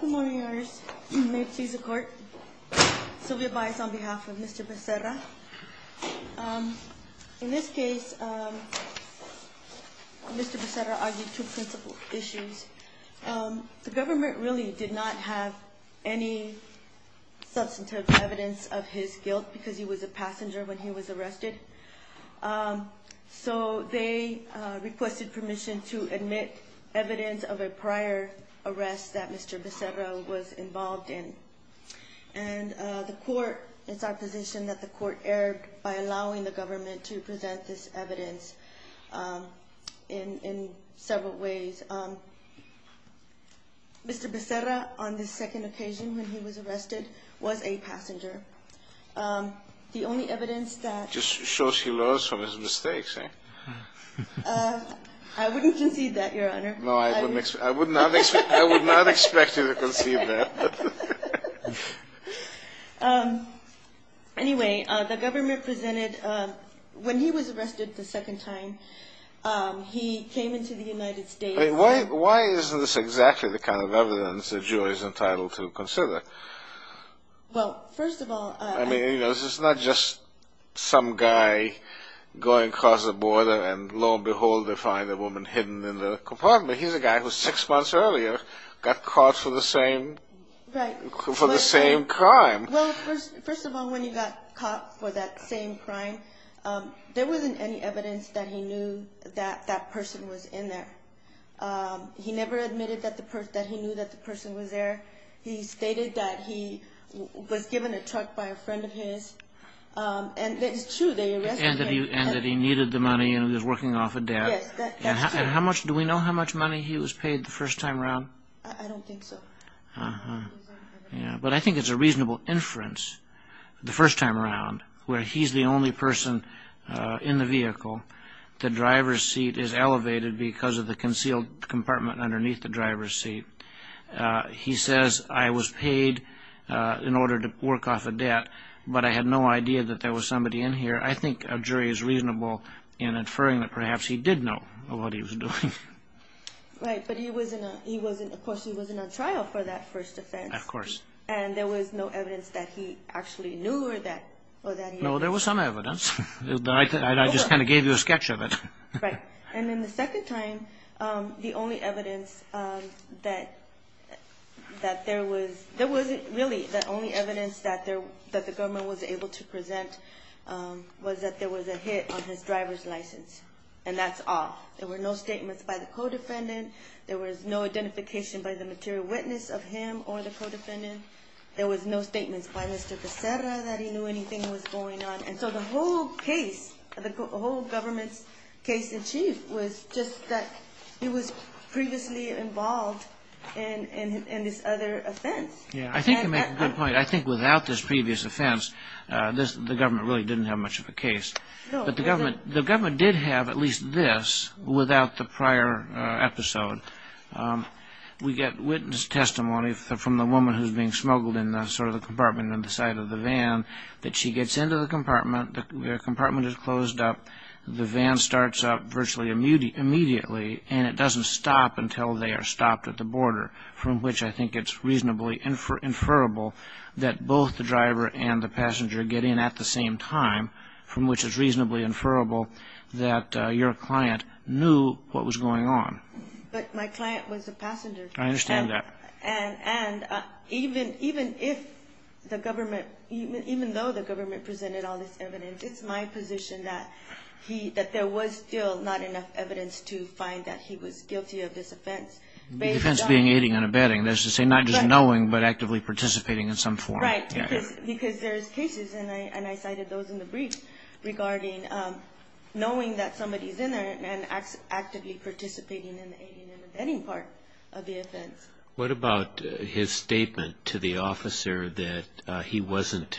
Good morning, may it please the court. Sylvia Baez on behalf of Mr. Becerra. In this case, Mr. Becerra argued two principal issues. The government really did not have any substantive evidence of his guilt because he was a passenger when he was arrested. So they requested permission to admit evidence of a prior arrest that Mr. Becerra was involved in. And the court, it's our position that the court erred by allowing the government to present this evidence in several ways. Mr. Becerra, on the second occasion when he was arrested, was a passenger. The only evidence that... Just shows he learns from his mistakes, eh? I wouldn't concede that, Your Honor. No, I would not expect you to concede that. Anyway, the government presented, when he was arrested the second time, he came into the United States... Why isn't this exactly the kind of evidence a juror is entitled to consider? Well, first of all... I mean, this is not just some guy going across the border and lo and behold they find a woman hidden in the compartment. He's a guy who six months earlier got caught for the same crime. Well, first of all, when he got caught for that same crime, there wasn't any evidence that he knew that that person was in there. He never admitted that he knew that the person was there. He stated that he was given a truck by a friend of his. And it's true, they arrested him. And that he needed the money and he was working off a debt. Yes, that's true. Do we know how much money he was paid the first time around? I don't think so. But I think it's a reasonable inference, the first time around, where he's the only person in the vehicle. The driver's seat is elevated because of the concealed compartment underneath the driver's seat. He says, I was paid in order to work off a debt, but I had no idea that there was somebody in here. I think a jury is reasonable in inferring that perhaps he did know what he was doing. Right, but of course he was in a trial for that first offense. Of course. And there was no evidence that he actually knew or that he... No, there was some evidence. I just kind of gave you a sketch of it. Right. And then the second time, the only evidence that there was... Really, the only evidence that the government was able to present was that there was a hit on his driver's license. And that's all. There were no statements by the co-defendant. There was no identification by the material witness of him or the co-defendant. There was no statements by Mr. Cacera that he knew anything was going on. And so the whole case, the whole government's case in chief, was just that he was previously involved in this other offense. Yeah, I think you make a good point. I think without this previous offense, the government really didn't have much of a case. But the government did have at least this without the prior episode. We get witness testimony from the woman who's being smuggled in sort of the compartment on the side of the van, that she gets into the compartment, the compartment is closed up, the van starts up virtually immediately, and it doesn't stop until they are stopped at the border, from which I think it's reasonably inferable that both the driver and the passenger get in at the same time, from which it's reasonably inferable that your client knew what was going on. But my client was a passenger. I understand that. And even if the government, even though the government presented all this evidence, it's my position that there was still not enough evidence to find that he was guilty of this offense. The defense being aiding and abetting. That's to say not just knowing, but actively participating in some form. Right, because there's cases, and I cited those in the brief, regarding knowing that somebody's in there and actively participating in the aiding and abetting part of the offense. What about his statement to the officer that he wasn't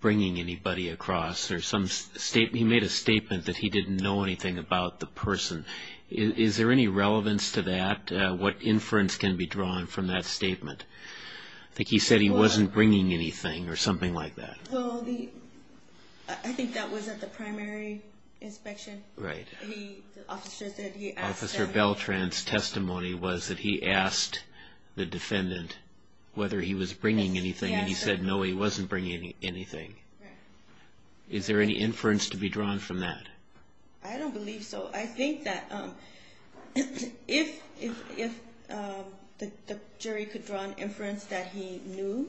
bringing anybody across? He made a statement that he didn't know anything about the person. Is there any relevance to that? What inference can be drawn from that statement? I think he said he wasn't bringing anything or something like that. Well, I think that was at the primary inspection. Right. The officer said he asked them. Officer Beltran's testimony was that he asked the defendant whether he was bringing anything, and he said no, he wasn't bringing anything. Right. Is there any inference to be drawn from that? I don't believe so. I think that if the jury could draw an inference that he knew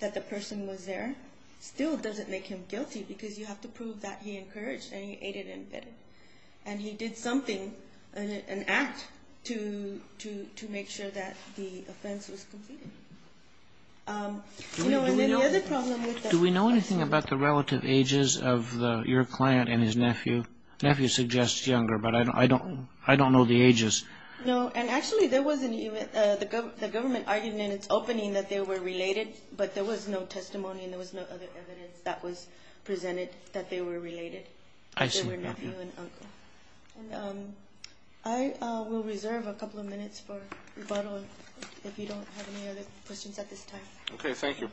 that the person was there, it still doesn't make him guilty because you have to prove that he encouraged aiding and abetting. And he did something, an act, to make sure that the offense was completed. Do we know anything about the relative ages of your client and his nephew? Nephew suggests younger, but I don't know the ages. No, and actually the government argued in its opening that they were related, but there was no testimony and there was no other evidence that was presented that they were related. I see. I will reserve a couple of minutes for rebuttal if you don't have any other questions at this time. Okay, thank you.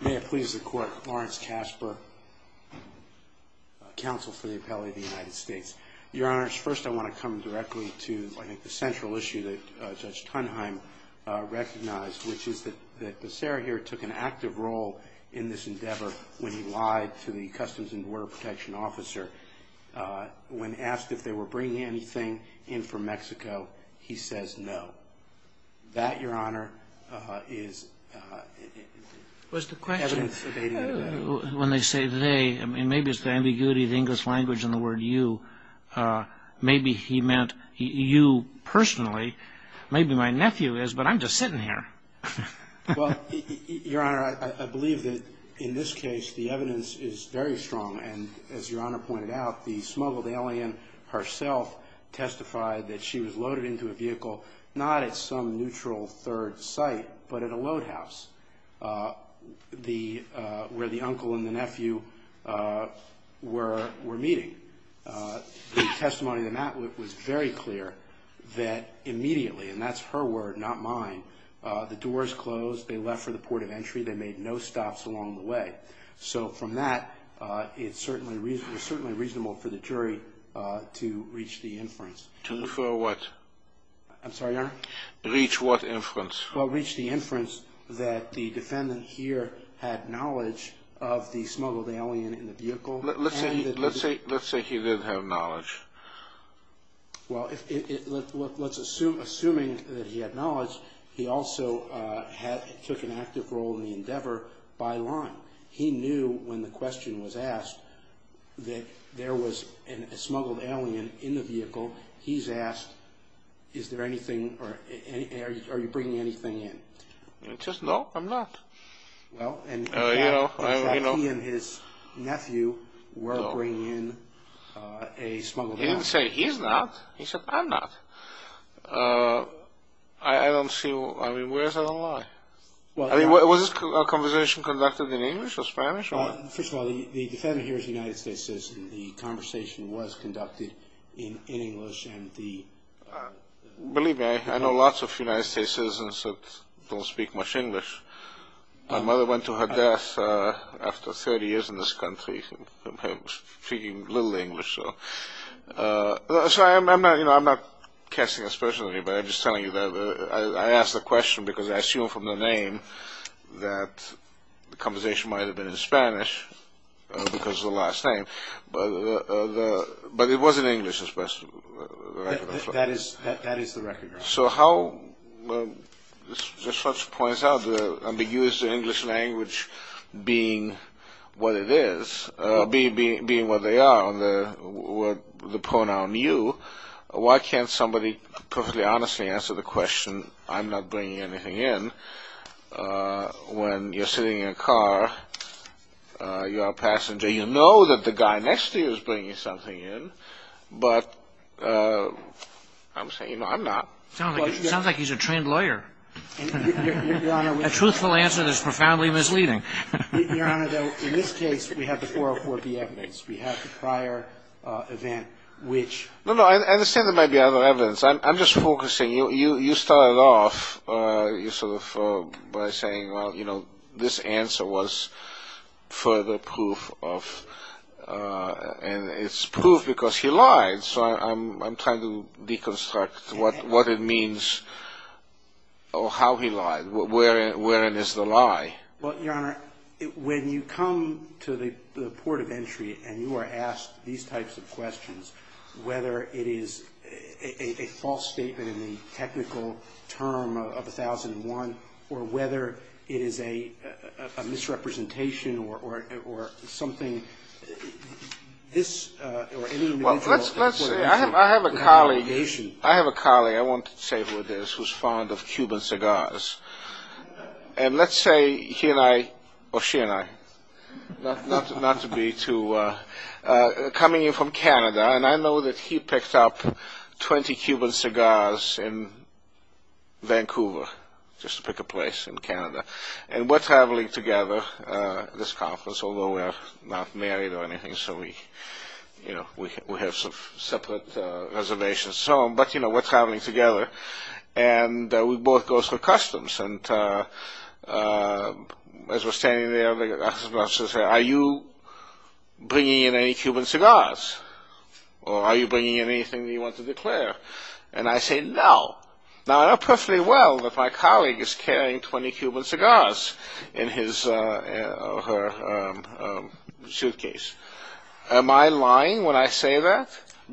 May it please the Court. Lawrence Kasper, Counsel for the Appellate of the United States. Your Honors, first I want to come directly to the central issue that Judge Tunheim recognized, which is that Becerra here took an active role in this endeavor when he lied to the Customs and Border Protection officer. When asked if they were bringing anything in from Mexico, he says no. That, Your Honor, is evidence debating it. When they say they, maybe it's the ambiguity of the English language and the word you. Maybe he meant you personally. Maybe my nephew is, but I'm just sitting here. Well, Your Honor, I believe that in this case the evidence is very strong, and as Your Honor pointed out, the smuggled alien herself testified that she was loaded into a vehicle, not at some neutral third site, but at a load house where the uncle and the nephew were meeting. The testimony of the appellate was very clear that immediately, and that's her word, not mine, the doors closed, they left for the port of entry, they made no stops along the way. So from that, it's certainly reasonable for the jury to reach the inference. For what? I'm sorry, Your Honor? Reach what inference? Well, reach the inference that the defendant here had knowledge of the smuggled alien in the vehicle. Let's say he did have knowledge. Well, let's assume, assuming that he had knowledge, he also took an active role in the endeavor by line. He knew when the question was asked that there was a smuggled alien in the vehicle. He's asked, is there anything or are you bringing anything in? I said, no, I'm not. Well, and he and his nephew were bringing in a smuggled alien. He didn't say he's not. He said, I'm not. I don't see, I mean, where is that a lie? Was this conversation conducted in English or Spanish? First of all, the defendant here is a United States citizen. The conversation was conducted in English and the... Believe me, I know lots of United States citizens that don't speak much English. My mother went to her death after 30 years in this country, speaking little English. Sorry, I'm not casting a special on you, but I'm just telling you that I asked the question because I assume from the name that the conversation might have been in Spanish, because of the last name, but it was in English, especially. That is the record. So how, this points out the ambiguous English language being what it is, being what they are, the pronoun you, why can't somebody perfectly honestly answer the question, I'm not bringing anything in, when you're sitting in a car, you're a passenger, you know that the guy next to you is bringing something in, but I'm saying, I'm not. Sounds like he's a trained lawyer. A truthful answer that's profoundly misleading. Your Honor, though, in this case, we have the 404B evidence. We have the prior event, which... No, no, I understand there might be other evidence. I'm just focusing. You started off by saying, well, you know, this answer was further proof of, and it's proof because he lied, so I'm trying to deconstruct what it means, or how he lied. Wherein is the lie? Well, Your Honor, when you come to the port of entry and you are asked these types of questions, whether it is a false statement in the technical term of 1001, or whether it is a misrepresentation or something, this or any individual... Well, let's say, I have a colleague, I have a colleague, I won't say who it is, who's fond of Cuban cigars. And let's say he and I, or she and I, not to be too... coming in from Canada, and I know that he picked up 20 Cuban cigars in Vancouver, just to pick a place in Canada. And we're traveling together, this conference, although we're not married or anything, so we have separate reservations. But, you know, we're traveling together, and we both go through customs. And as we're standing there, I say, are you bringing in any Cuban cigars? Or are you bringing in anything that you want to declare? And I say, no. Now, I know perfectly well that my colleague is carrying 20 Cuban cigars in his or her suitcase. Am I lying when I say that?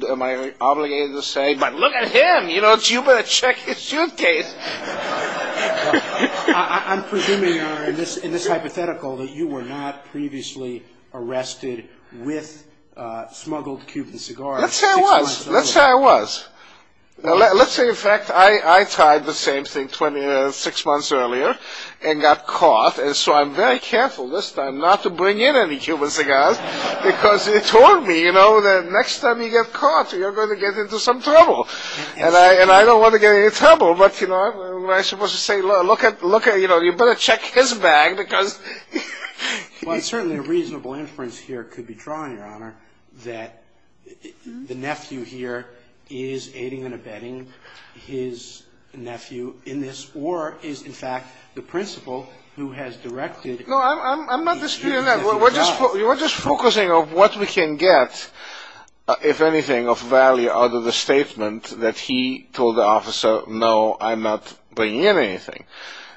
Am I obligated to say, but look at him, you know, you better check his suitcase. I'm presuming, in this hypothetical, that you were not previously arrested with smuggled Cuban cigars. Let's say I was. Let's say I was. Let's say, in fact, I tried the same thing six months earlier and got caught, and so I'm very careful this time not to bring in any Cuban cigars, because it told me, you know, that next time you get caught, you're going to get into some trouble. And I don't want to get into trouble. But, you know, what am I supposed to say? Look at, you know, you better check his bag because... Well, certainly a reasonable inference here could be drawn, Your Honor, that the nephew here is aiding and abetting his nephew in this, or is, in fact, the principal who has directed... No, I'm not disputing that. We're just focusing on what we can get, if anything, of value out of the statement that he told the officer, no, I'm not bringing in anything.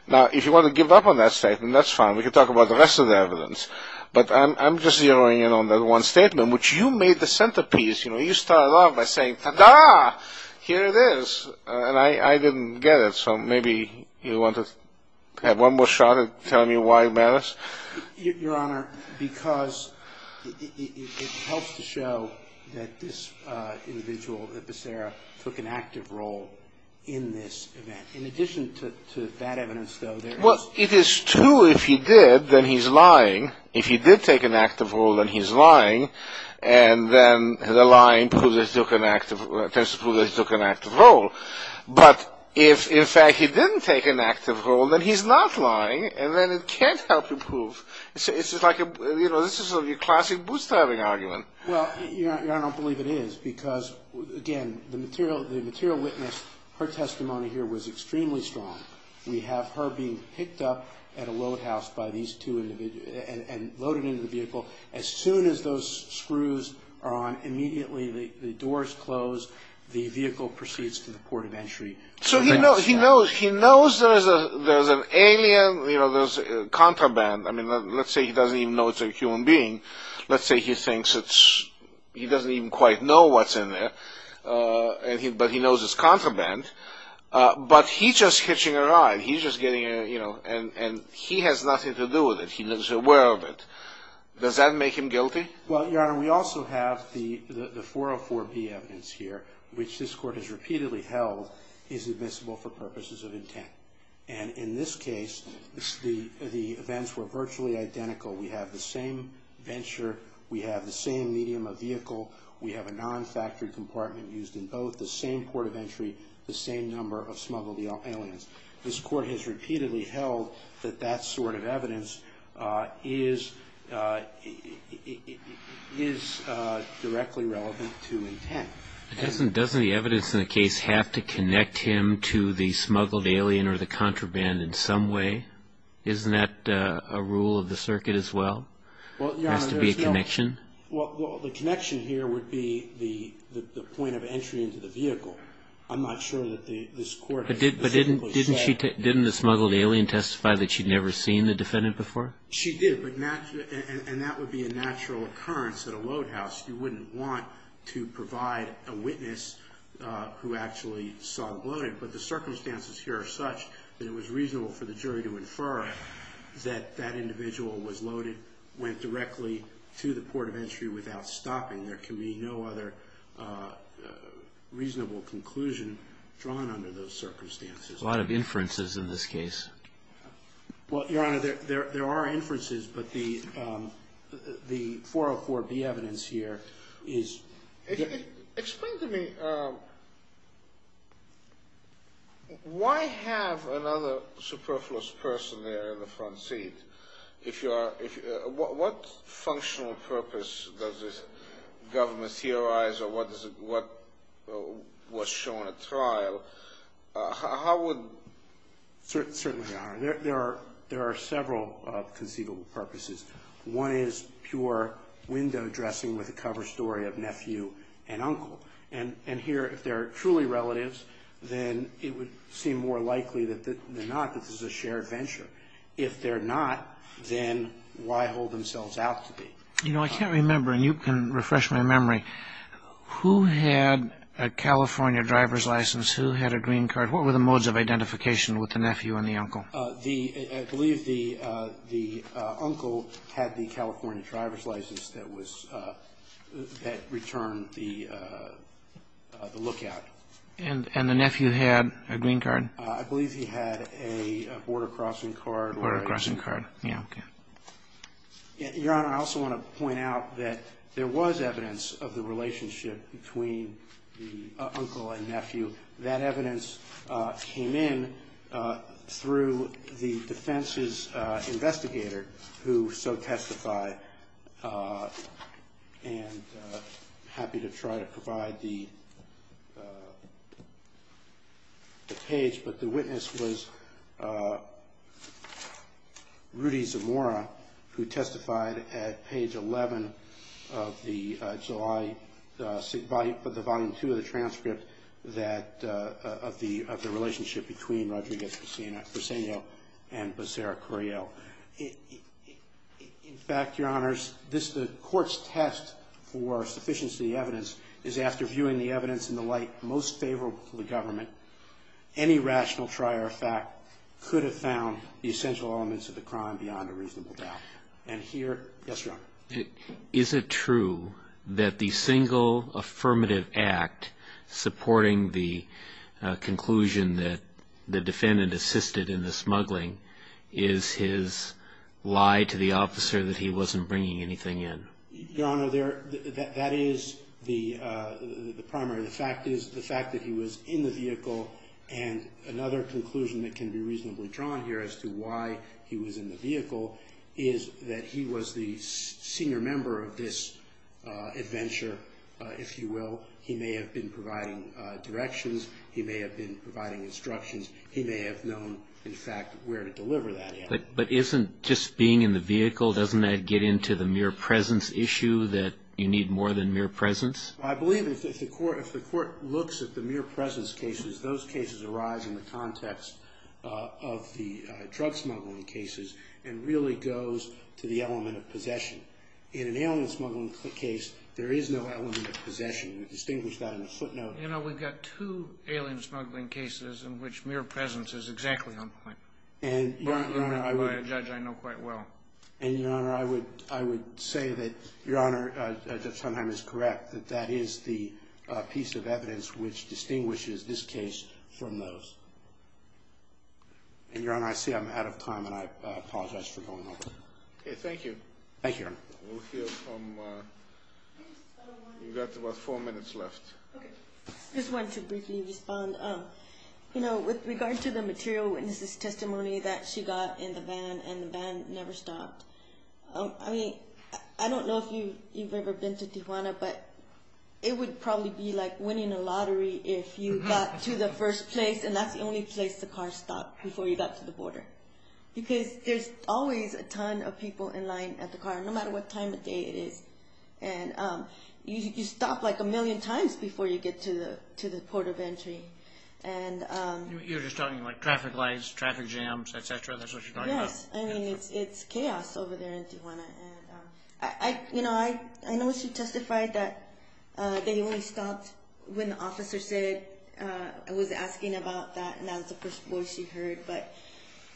Now, if you want to give up on that statement, that's fine. We can talk about the rest of the evidence. But I'm just zeroing in on that one statement, which you made the centerpiece. You know, you started off by saying, ta-da, here it is. And I didn't get it, so maybe you want to have one more shot at telling me why it matters? Your Honor, because it helps to show that this individual, that Becerra, took an active role in this event. In addition to that evidence, though, there is... Well, it is true if he did, then he's lying. If he did take an active role, then he's lying. And then the lying proves that he took an active role. But if, in fact, he didn't take an active role, then he's not lying, and then it can't help you prove. It's just like a, you know, this is sort of your classic bootstrapping argument. Well, Your Honor, I don't believe it is, because, again, the material witness, her testimony here was extremely strong. We have her being picked up at a load house by these two individuals and loaded into the vehicle. As soon as those screws are on, immediately the doors close, the vehicle proceeds to the port of entry. So he knows there's an alien, you know, there's contraband. I mean, let's say he doesn't even know it's a human being. Let's say he thinks it's... he doesn't even quite know what's in there, but he knows it's contraband. But he's just hitching a ride. He's just getting a, you know, and he has nothing to do with it. Does that make him guilty? Well, Your Honor, we also have the 404B evidence here, which this court has repeatedly held is admissible for purposes of intent. And in this case, the events were virtually identical. We have the same venture, we have the same medium of vehicle, we have a non-factory compartment used in both, the same port of entry, the same number of smuggled aliens. This court has repeatedly held that that sort of evidence is directly relevant to intent. Doesn't the evidence in the case have to connect him to the smuggled alien or the contraband in some way? Isn't that a rule of the circuit as well? There has to be a connection? Well, the connection here would be the point of entry into the vehicle. I'm not sure that this court has specifically said that. But didn't the smuggled alien testify that she'd never seen the defendant before? She did, and that would be a natural occurrence at a load house. You wouldn't want to provide a witness who actually saw him loaded. But the circumstances here are such that it was reasonable for the jury to infer that that individual was loaded, went directly to the port of entry without stopping. There can be no other reasonable conclusion drawn under those circumstances. A lot of inferences in this case. Well, Your Honor, there are inferences, but the 404B evidence here is... Explain to me, why have another superfluous person there in the front seat? What functional purpose does the government theorize, or what was shown at trial? How would... Certainly, Your Honor, there are several conceivable purposes. One is pure window dressing with a cover story of nephew and uncle. And here, if they're truly relatives, then it would seem more likely than not that this is a shared venture. If they're not, then why hold themselves out to be? You know, I can't remember, and you can refresh my memory. Who had a California driver's license? Who had a green card? What were the modes of identification with the nephew and the uncle? I believe the uncle had the California driver's license that returned the lookout. And the nephew had a green card? I believe he had a border crossing card. Border crossing card, yeah. Your Honor, I also want to point out that there was evidence of the relationship between the uncle and nephew. That evidence came in through the defense's investigator, who so testified. And I'm happy to try to provide the page, but the witness was Rudy Zamora, who testified at page 11 of the volume 2 of the transcript of the relationship between Rodriguez-Preseno and Becerra-Correal. In fact, Your Honors, the court's test for sufficiency of the evidence is, after viewing the evidence in the light most favorable to the government, any rational trier of fact could have found the essential elements of the crime beyond a reasonable doubt. And here, yes, Your Honor. Is it true that the single affirmative act supporting the conclusion that the defendant assisted in the smuggling is his lie to the officer that he wasn't bringing anything in? Your Honor, that is the primary. The fact is the fact that he was in the vehicle, and another conclusion that can be reasonably drawn here as to why he was in the vehicle, is that he was the senior member of this adventure, if you will. He may have been providing directions. He may have been providing instructions. He may have known, in fact, where to deliver that. But isn't just being in the vehicle, doesn't that get into the mere presence issue, that you need more than mere presence? I believe if the court looks at the mere presence cases, those cases arise in the context of the drug smuggling cases and really goes to the element of possession. In an alien smuggling case, there is no element of possession. We distinguish that in a footnote. You know, we've got two alien smuggling cases in which mere presence is exactly on point. By a judge, I know quite well. And, Your Honor, I would say that Your Honor, Judge Sondheim is correct, that that is the piece of evidence which distinguishes this case from those. And, Your Honor, I see I'm out of time, and I apologize for going over. Okay, thank you. Thank you, Your Honor. We'll hear from, you've got about four minutes left. Okay. I just wanted to briefly respond. You know, with regard to the material witness's testimony that she got in the van, and the van never stopped, I mean, I don't know if you've ever been to Tijuana, but it would probably be like winning a lottery if you got to the first place, and that's the only place the car stopped before you got to the border because there's always a ton of people in line at the car, no matter what time of day it is. And you stop like a million times before you get to the port of entry. You're just talking about traffic lights, traffic jams, et cetera, that's what you're talking about? Yes, I mean, it's chaos over there in Tijuana. You know, I know she testified that they only stopped when the officer said, was asking about that, and that was the first voice she heard. But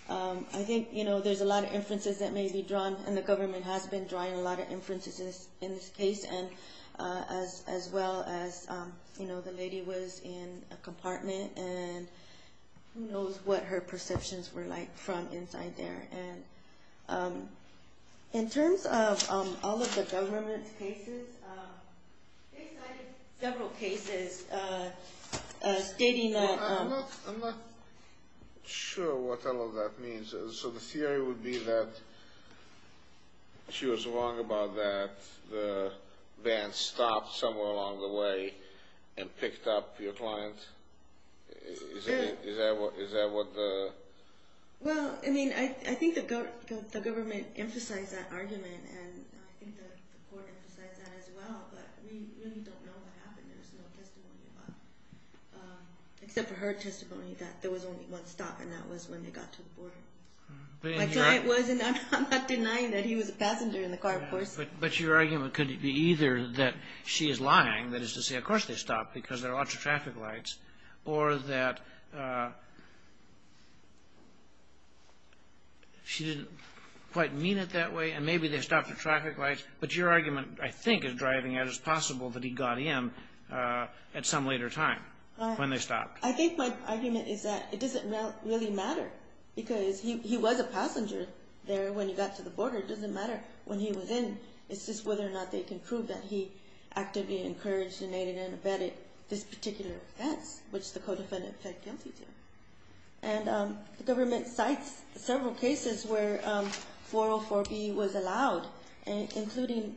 I think, you know, there's a lot of inferences that may be drawn, and the government has been drawing a lot of inferences in this case, as well as, you know, the lady was in a compartment, and who knows what her perceptions were like from inside there. And in terms of all of the government's cases, they cited several cases stating that— I'm not sure what all of that means. So the theory would be that she was wrong about that, the van stopped somewhere along the way and picked up your client? Is that what the— Well, I mean, I think the government emphasized that argument, and I think the court emphasized that as well, but we really don't know what happened. Except for her testimony that there was only one stop, and that was when they got to the border. My client was, and I'm not denying that he was a passenger in the car, of course. But your argument could be either that she is lying, that is to say, of course they stopped, because there are lots of traffic lights, or that she didn't quite mean it that way, and maybe they stopped at traffic lights, but your argument, I think, is driving at it as possible that he got in at some later time when they stopped. I think my argument is that it doesn't really matter, because he was a passenger there when he got to the border. It doesn't matter when he was in. It's just whether or not they can prove that he actively encouraged and aided and abetted this particular offense, which the co-defendant pled guilty to. And the government cites several cases where 404B was allowed, including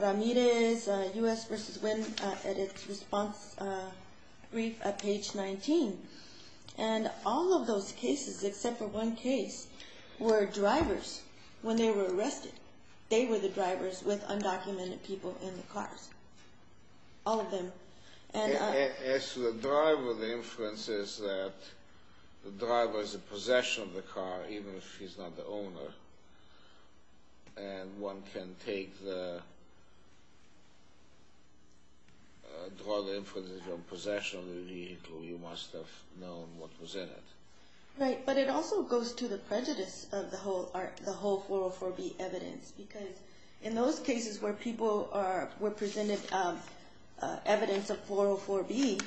Ramirez, U.S. v. Wynn, at its response brief at page 19. And all of those cases, except for one case, were drivers when they were arrested. They were the drivers with undocumented people in the cars. All of them. As to the driver, the inference is that the driver is in possession of the car, even if he's not the owner, and one can draw the inference that he's in possession of the vehicle. You must have known what was in it. Right, but it also goes to the prejudice of the whole 404B evidence, because in those cases where people were presented evidence of 404B,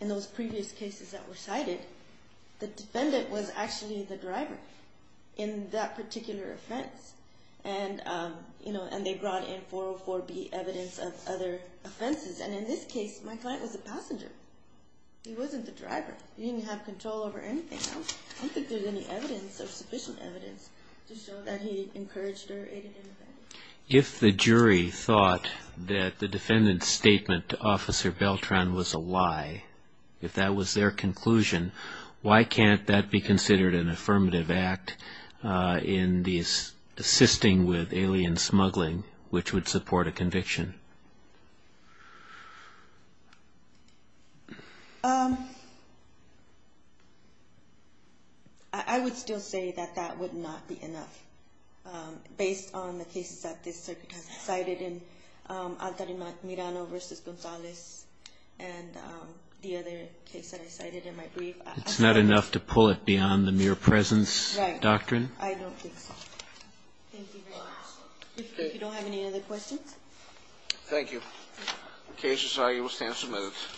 in those previous cases that were cited, the defendant was actually the driver in that particular offense. And they brought in 404B evidence of other offenses. And in this case, my client was a passenger. He wasn't the driver. He didn't have control over anything else. I don't think there's any evidence or sufficient evidence to show that he encouraged or aided and abetted. If the jury thought that the defendant's statement to Officer Beltran was a lie, if that was their conclusion, why can't that be considered an affirmative act in assisting with alien smuggling, which would support a conviction? I would still say that that would not be enough. Based on the cases that this circuit has cited in Altarimac-Mirano v. Gonzalez and the other case that I cited in my brief. It's not enough to pull it beyond the mere presence doctrine? Right. I don't think so. Thank you very much. If you don't have any other questions. Thank you. Case is now in the stand for minutes.